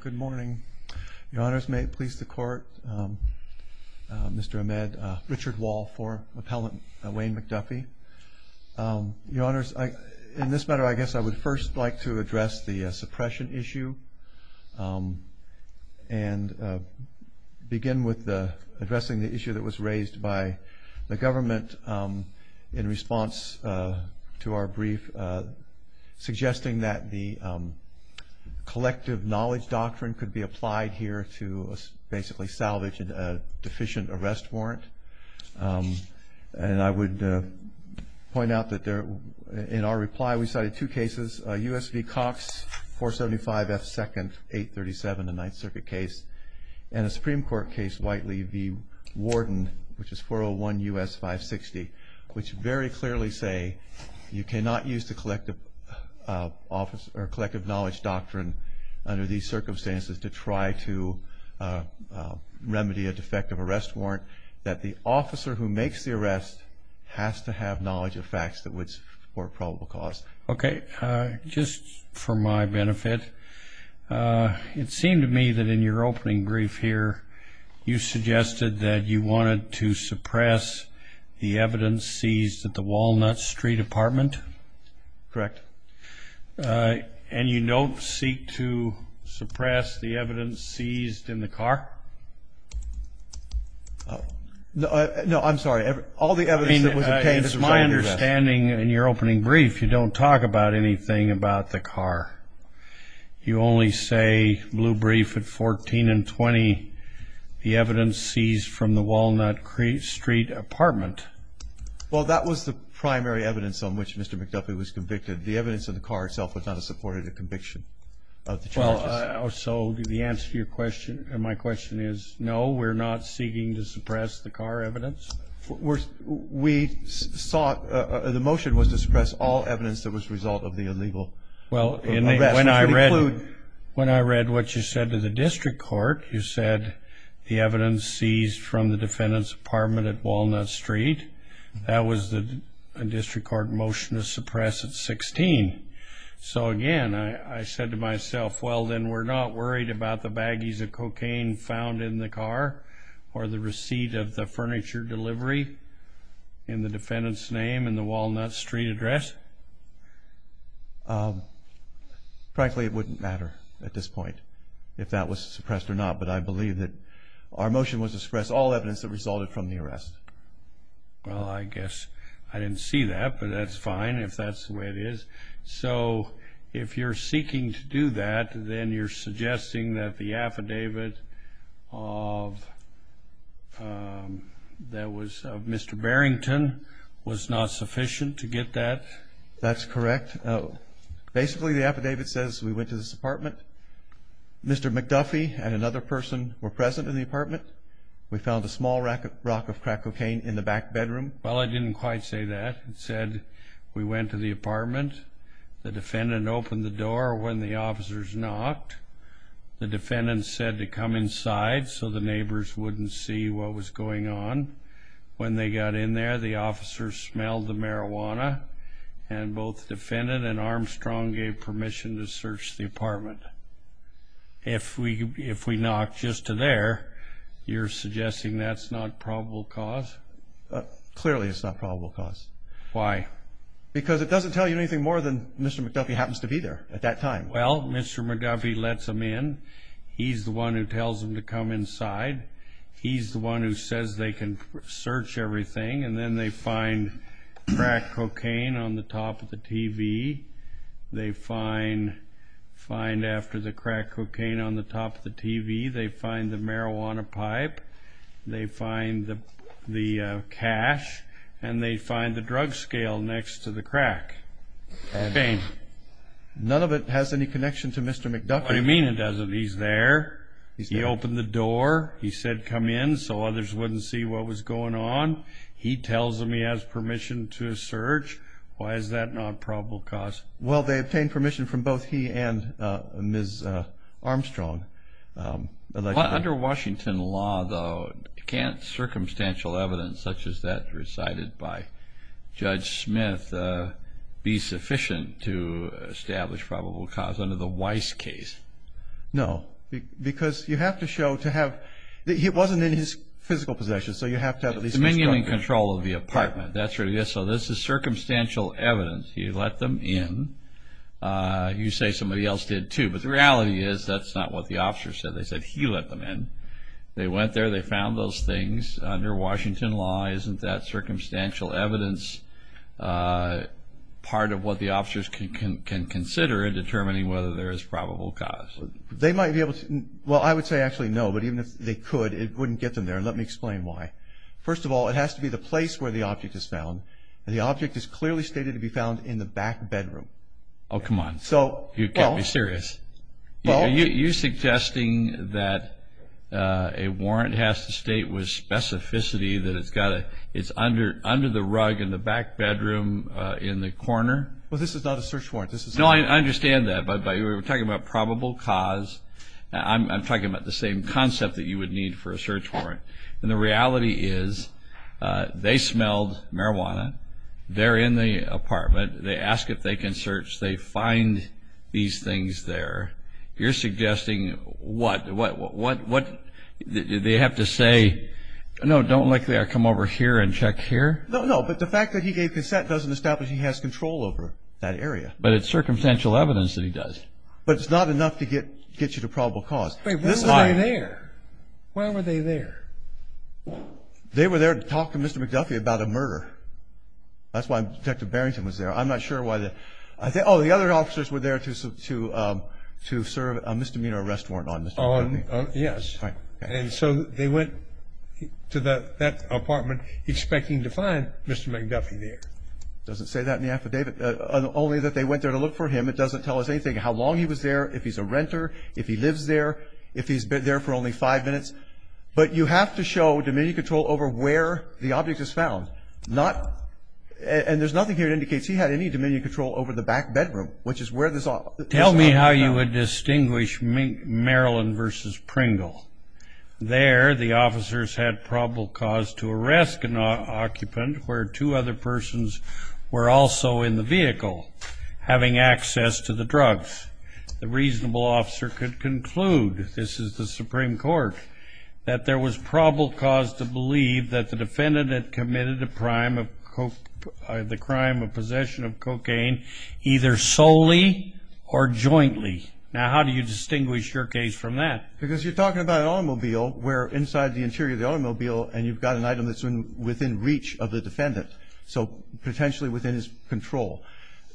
Good morning. Your Honors, may it please the Court, Mr. Ahmed, Richard Wall for Appellant Wayne McDuffie. Your Honors, in this matter, I guess I would first like to address the suppression issue and begin with addressing the issue that was raised by the government in response to our brief suggesting that the collective knowledge doctrine could be applied here to basically salvage a deficient arrest warrant. And I would point out that in our reply we cited two cases, a U.S. v. Cox, 475 F. 2nd, 837, the Ninth Circuit case, and a very clearly say you cannot use the collective knowledge doctrine under these circumstances to try to remedy a defective arrest warrant, that the officer who makes the arrest has to have knowledge of facts that would support probable cause. Okay. Just for my benefit, it seemed to me that in your opening brief here you suggested that you wanted to suppress the evidence seized at the Walnut Street apartment? Correct. And you don't seek to suppress the evidence seized in the car? No, I'm sorry. All the evidence that was obtained is my understanding. In your opening brief, you don't talk about anything about the car. You only say, blue evidence seized from the Walnut Street apartment. Well, that was the primary evidence on which Mr. McDuffie was convicted. The evidence of the car itself was not a supportive conviction of the charges. So the answer to your question, my question is, no, we're not seeking to suppress the car evidence? We sought, the motion was to suppress all evidence that was a result of the illegal arrest. Well, when I read what you said to the district court, you said the evidence seized from the defendant's apartment at Walnut Street. That was a district court motion to suppress at 16. So again, I said to myself, well, then we're not worried about the baggies of cocaine found in the car or the receipt of the furniture delivery in the defendant's name in the Walnut Street address? Frankly, it wouldn't matter at this point if that was suppressed or not, but I believe that our motion was to suppress all evidence that resulted from the arrest. Well, I guess I didn't see that, but that's fine if that's the way it is. So if you're seeking to do that, then you're suggesting that the affidavit of Mr. Barrington was not sufficient to get that? That's correct. Basically, the affidavit says we went to this apartment. Mr. McDuffie and another person were present in the apartment. We found a small rack of crack cocaine in the back bedroom. Well, I didn't quite say that. It said we went to the apartment. The defendant opened the door when the officers knocked. The defendant said to come inside so the neighbors wouldn't see what was going on. When they got in there, the officers smelled the marijuana, and both the defendant and Armstrong gave permission to search the apartment. If we knocked just to there, you're suggesting that's not probable cause? Clearly it's not probable cause. Why? Because it doesn't tell you anything more than Mr. McDuffie happens to be there at that time. Well, Mr. McDuffie lets them in. He's the one who tells them to come inside. He's the one who says they can search everything, and then they find crack cocaine on the top of the TV. They find after the crack cocaine on the top of the TV, they find the marijuana pipe. They find the cash, and they find the drug scale next to the crack. Explain. None of it has any connection to Mr. McDuffie. What do you mean it doesn't? He's there. He opened the door. He said come in so others wouldn't see what was going on. He tells them he has permission to search. Why is that not probable cause? Well, they obtained permission from both he and Ms. Armstrong. Under Washington law, though, you can't have circumstantial evidence such as that recited by Judge Smith be sufficient to establish probable cause under the Weiss case. No, because you have to show to have... He wasn't in his physical possession, so you have to have at least... Dominion and control of the apartment. That's what it is. This is circumstantial evidence. He let them in. You say somebody else did, too, but the reality is that's not what the officer said. They said he let them in. They went there. They found those things. Under that circumstantial evidence, part of what the officers can consider in determining whether there is probable cause. They might be able to... Well, I would say actually no, but even if they could, it wouldn't get them there. Let me explain why. First of all, it has to be the place where the object is found. The object is clearly stated to be found in the back bedroom. Oh, come on. You've got to be serious. You're suggesting that a warrant has to state with under the rug in the back bedroom in the corner? Well, this is not a search warrant. This is... No, I understand that, but we're talking about probable cause. I'm talking about the same concept that you would need for a search warrant. The reality is they smelled marijuana. They're in the apartment. They ask if they can search. They find these things there. You're suggesting what? Do they have to say, no, don't lick there. Come over here and check here? No, no, but the fact that he gave consent doesn't establish he has control over that area. But it's circumstantial evidence that he does. But it's not enough to get you to probable cause. Wait, why were they there? Why were they there? They were there to talk to Mr. McDuffie about a murder. That's why Detective Barrington was there. I'm not sure why they... Oh, the other officers were there to serve a misdemeanor arrest warrant on Mr. McDuffie. Yes. And so they went to that apartment expecting to find Mr. McDuffie there. Doesn't say that in the affidavit. Only that they went there to look for him. It doesn't tell us anything, how long he was there, if he's a renter, if he lives there, if he's been there for only five minutes. But you have to show dominion control over where the object is found. And there's nothing here that indicates he had any dominion control over the back bedroom, which is where this object is found. Tell me how you would distinguish Maryland versus Pringle. There, the officers had probable cause to arrest an occupant where two other persons were also in the vehicle, having access to the drugs. The reasonable officer could conclude, this is the Supreme Court, that there was probable cause to believe that the defendant had committed the crime of possession of cocaine either solely or jointly. Now how do you distinguish your case from that? Because you're talking about an automobile where inside the interior of the automobile and you've got an item that's within reach of the defendant. So potentially within his control.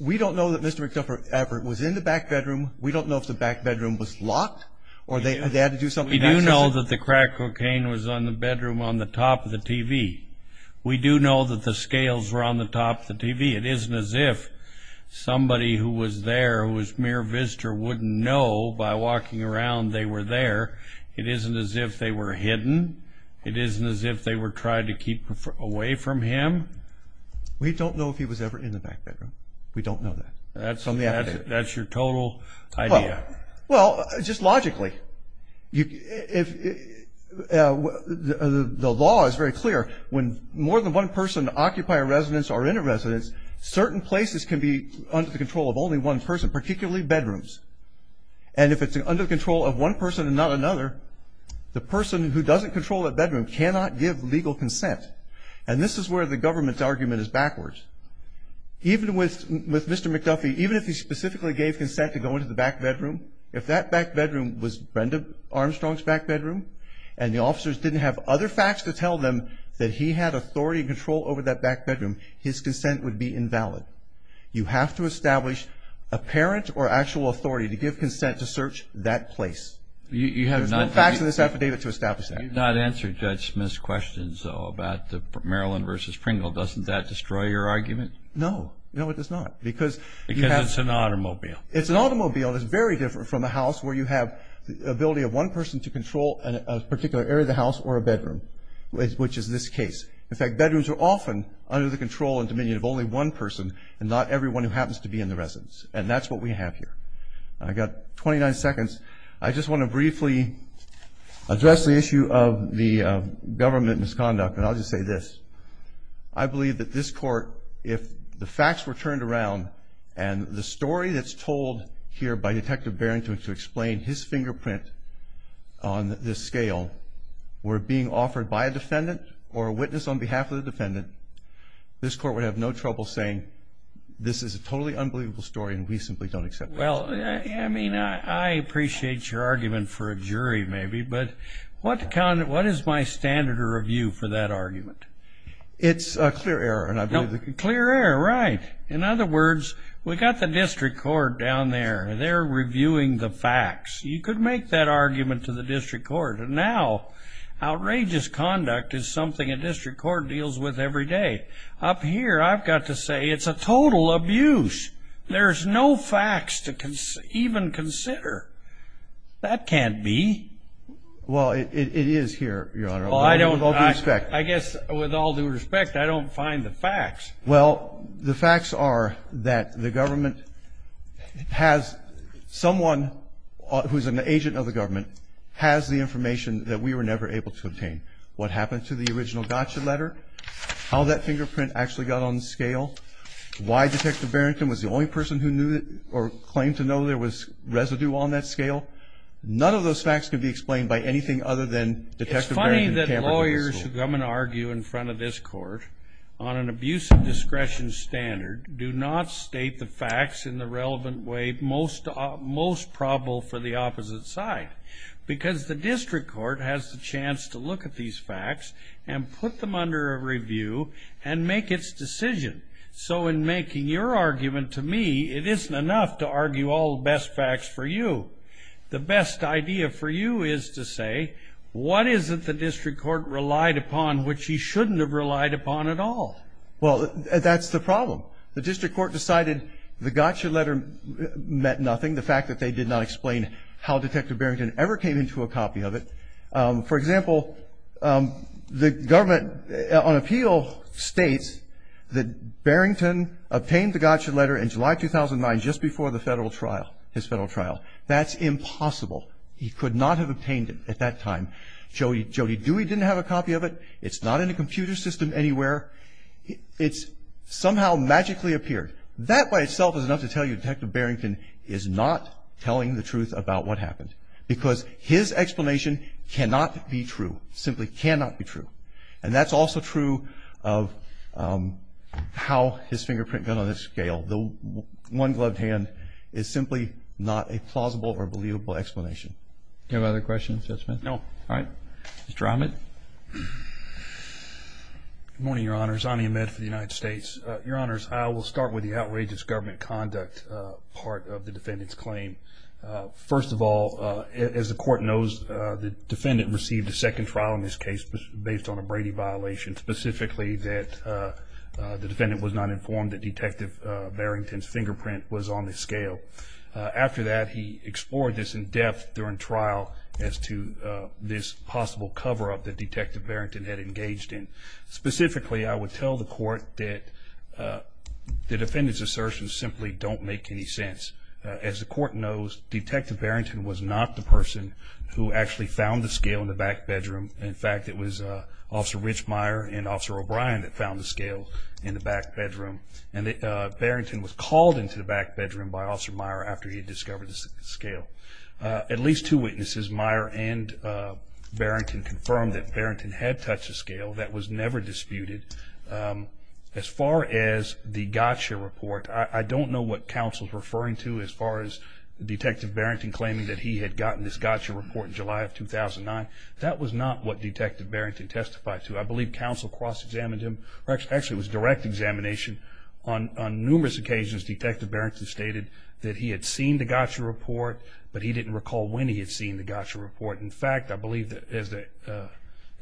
We don't know that Mr. McDuffie was in the back bedroom. We don't know if the back bedroom was locked or they had to do something to access it. We do know that the crack cocaine was on the bedroom on the top of the TV. We do know that the scales were on the top of the TV. It isn't as if somebody who was there who was mere visitor wouldn't know by walking around they were there. It isn't as if they were hidden. It isn't as if they were tried to keep away from him. We don't know if he was ever in the back bedroom. We don't know that. That's your total idea. Well, just logically. The law is very clear. When more than one person occupy a residence or in a residence, certain places can be under the control of only one person, particularly bedrooms. And if it's under control of one person and not another, the person who doesn't control that bedroom cannot give legal consent. And this is where the government's argument is backwards. Even with Mr. McDuffie, even if he specifically gave consent to go into the back bedroom, if that back bedroom was Brenda Armstrong's back bedroom and the officers didn't have other facts to tell them that he had authority and control over that back bedroom, his consent would be invalid. You have to establish apparent or actual authority to give consent to search that place. There's no facts in this affidavit to establish that. You have not answered Judge Smith's questions, though, about the Maryland v. Pringle. Doesn't that destroy your argument? No. No, it does not. Because it's an automobile. It's an automobile that's very different from a house where you have the ability of one person to control a particular area of the house or a bedroom, which is this case. In fact, bedrooms are often under the control and dominion of only one person and not everyone who happens to be in the residence. And that's what we have here. I've got 29 seconds. I just want to briefly address the issue of the government misconduct. And I'll just say this. I believe that this Court, if the facts were turned around and the story that's told here by Detective Barron to explain his fingerprint on this scale were being offered by a defendant or a witness on behalf of the defendant, this Court would have no trouble saying this is a totally unbelievable story and we simply don't accept it. Well, I mean, I appreciate your argument for a jury, maybe, but what is my standard of review for that argument? It's a clear error. Clear error, right. In other words, we've got the District Court down there. They're reviewing the facts. You could make that argument to the District Court. And now, outrageous conduct is something a District Court deals with every day. Up here, I've got to say it's a total abuse. There's no facts to even consider. That can't be. Well, it is here, Your Honor, with all due respect. I don't find the facts. Well, the facts are that the government has someone who's an agent of the government has the information that we were never able to obtain. What happened to the original gotcha letter? How that fingerprint actually got on the scale? Why Detective Barrington was the only person who knew or claimed to know there was residue on that scale? None of those facts can be explained by anything other than Detective Barrington. Many of the lawyers who come and argue in front of this court on an abuse of discretion standard do not state the facts in the relevant way most probable for the opposite side. Because the District Court has the chance to look at these facts and put them under a review and make its decision. So in making your argument to me, it isn't enough to argue all the best facts for you. The best idea for you is to say, what is it the District Court relied upon which he shouldn't have relied upon at all? Well, that's the problem. The District Court decided the gotcha letter meant nothing. The fact that they did not explain how Detective Barrington ever came into a copy of it. For example, the government on appeal states that Barrington obtained the gotcha letter in July 2009 just before the federal trial, his federal trial. That's impossible. He could not have obtained it at that time. Jody Dewey didn't have a copy of it. It's not in a computer system anywhere. It's somehow magically appeared. That by itself is enough to tell you Detective Barrington is not telling the truth about what happened. Because his explanation cannot be true, simply cannot be true. And that's also true of how his fingerprint got on the scale. The one gloved hand is simply not a plausible or believable explanation. Do you have other questions, Judge Smith? No. All right. Mr. Ahmed. Good morning, Your Honors. Ani Ahmed for the United States. Your Honors, I will start with the outrageous government conduct part of the defendant's claim. First of all, as the court knows, the defendant received a second trial in this case based on a Brady violation, specifically that the defendant was not informed that Detective Barrington's fingerprint was on the scale. After that, he explored this in depth during trial as to this possible cover-up that Detective Barrington had engaged in. Specifically, I would tell the court that the defendant's assertions simply don't make any sense. As the court knows, Detective Barrington was not the person who actually found the scale in the back bedroom. In fact, it was Officer Rich Meyer and Officer O'Brien that found the scale in the back bedroom. Barrington was called into the back bedroom by Officer Meyer after he had discovered the scale. At least two witnesses, Meyer and Barrington, confirmed that Barrington had touched the scale. That was never disputed. As far as the gotcha report, I don't know what counsel is referring to as far as Detective Barrington claiming that he had gotten this gotcha report in July of 2009. That was not what Detective Barrington testified to. I believe counsel cross-examined him. Actually, it was direct examination. On numerous occasions, Detective Barrington stated that he had seen the gotcha report, but he didn't recall when he had seen the gotcha report. In fact, I believe that as the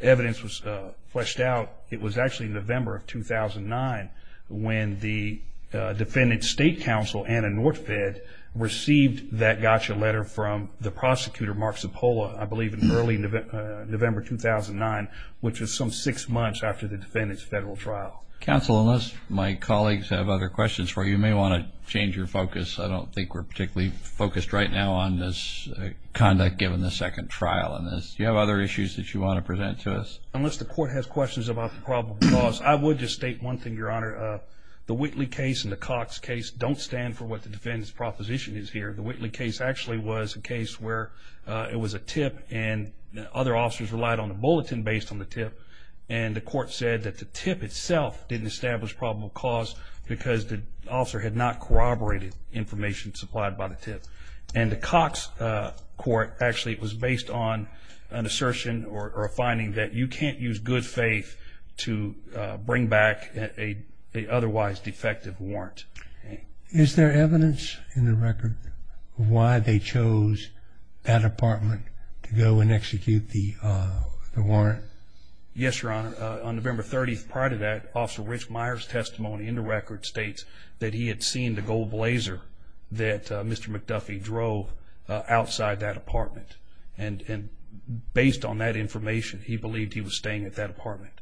evidence was fleshed out, it was actually November of 2009 when the defendant's state counsel, Anna Northead, received that gotcha letter from the prosecutor, Mark Zappola, I believe in early November 2009, which was some six months after the defendant's federal trial. Counsel, unless my colleagues have other questions for you, you may want to change your focus. I don't think we're particularly focused right now on this conduct given the second trial in this. Do you have other issues that you want to present to us? Unless the court has questions about the probable cause, I would just state one thing, Your Honor. The Whitley case and the Cox case don't stand for what the defendant's proposition is here. The Whitley case actually was a case where it was a tip and other officers relied on the bulletin based on the tip, and the court said that the tip itself didn't establish probable cause because the officer had not corroborated information supplied by the tip. And the Cox court, actually, it was based on an assertion or a finding that you can't use good faith to bring back an otherwise defective warrant. Is there evidence in the record of why they chose that apartment to go and execute the warrant? Yes, Your Honor. On November 30th, prior to that, Officer Rich Meyer's testimony in the record states that he had seen the gold blazer that Mr. McDuffie drove outside that apartment. And based on that information, he believed he was staying at that apartment.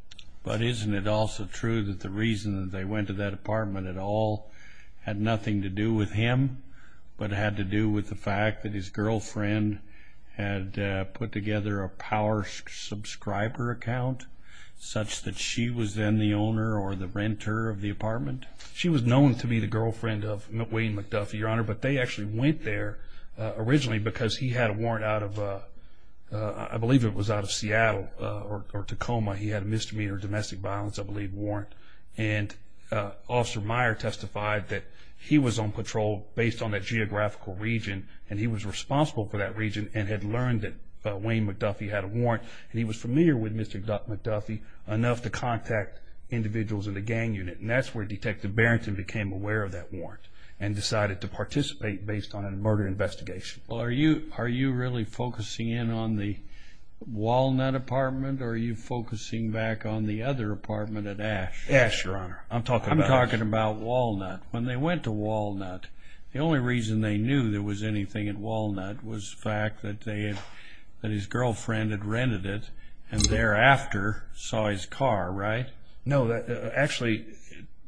But isn't it also true that the reason that they went to that apartment at all had nothing to do with him, but had to do with the fact that his girlfriend had put together a power subscriber account, such that she was then the owner or the renter of the apartment? She was known to be the girlfriend of Wayne McDuffie, Your Honor, but they actually went there originally because he had a warrant out of, I believe it was out of Seattle or Tacoma. He had a misdemeanor domestic violence, I believe, warrant. And Officer Meyer testified that he was on patrol based on that geographical region, and he was responsible for that region and had learned that Wayne McDuffie had a warrant. And he was familiar with Mr. McDuffie enough to contact individuals in the gang unit. And that's where Detective Barrington became aware of that warrant and decided to participate based on a murder investigation. Are you really focusing in on the Walnut apartment, or are you focusing back on the other apartment at Ash? Ash, Your Honor. I'm talking about Walnut. When they went to Walnut, the only reason they knew there was anything at Walnut was the fact that his girlfriend had rented it and thereafter saw his car, right? No, actually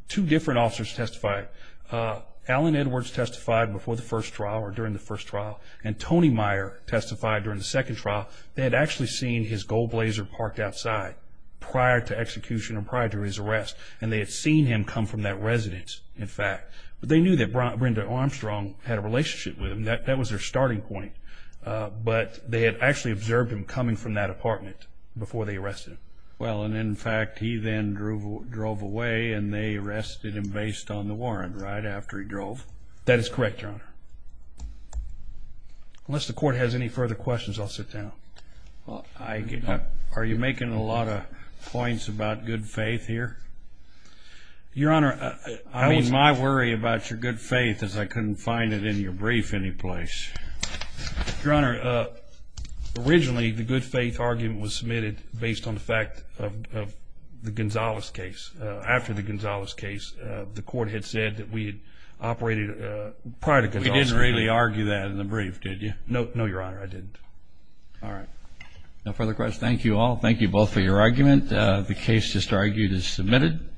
two different officers testified. Alan Edwards testified before the first trial or during the first trial, and Tony Meyer testified during the second trial. They had actually seen his gold blazer parked outside prior to execution or prior to his arrest, and they had seen him come from that residence, in fact. But they knew that Brenda Armstrong had a relationship with him. That was their starting point. But they had actually observed him coming from that apartment before they arrested him. Well, and in fact, he then drove away, and they arrested him based on the warrant right after he drove. That is correct, Your Honor. Unless the court has any further questions, I'll sit down. Are you making a lot of points about good faith here? Your Honor, I was my worry about your good faith is I couldn't find it in your brief any place. Your Honor, originally the good faith argument was submitted based on the fact of the Gonzales case. After the Gonzales case, the court had said that we had operated prior to Gonzales. We didn't really argue that in the brief, did you? No, Your Honor, I didn't. All right. No further questions. Thank you all. Thank you both for your argument. The case just argued is submitted.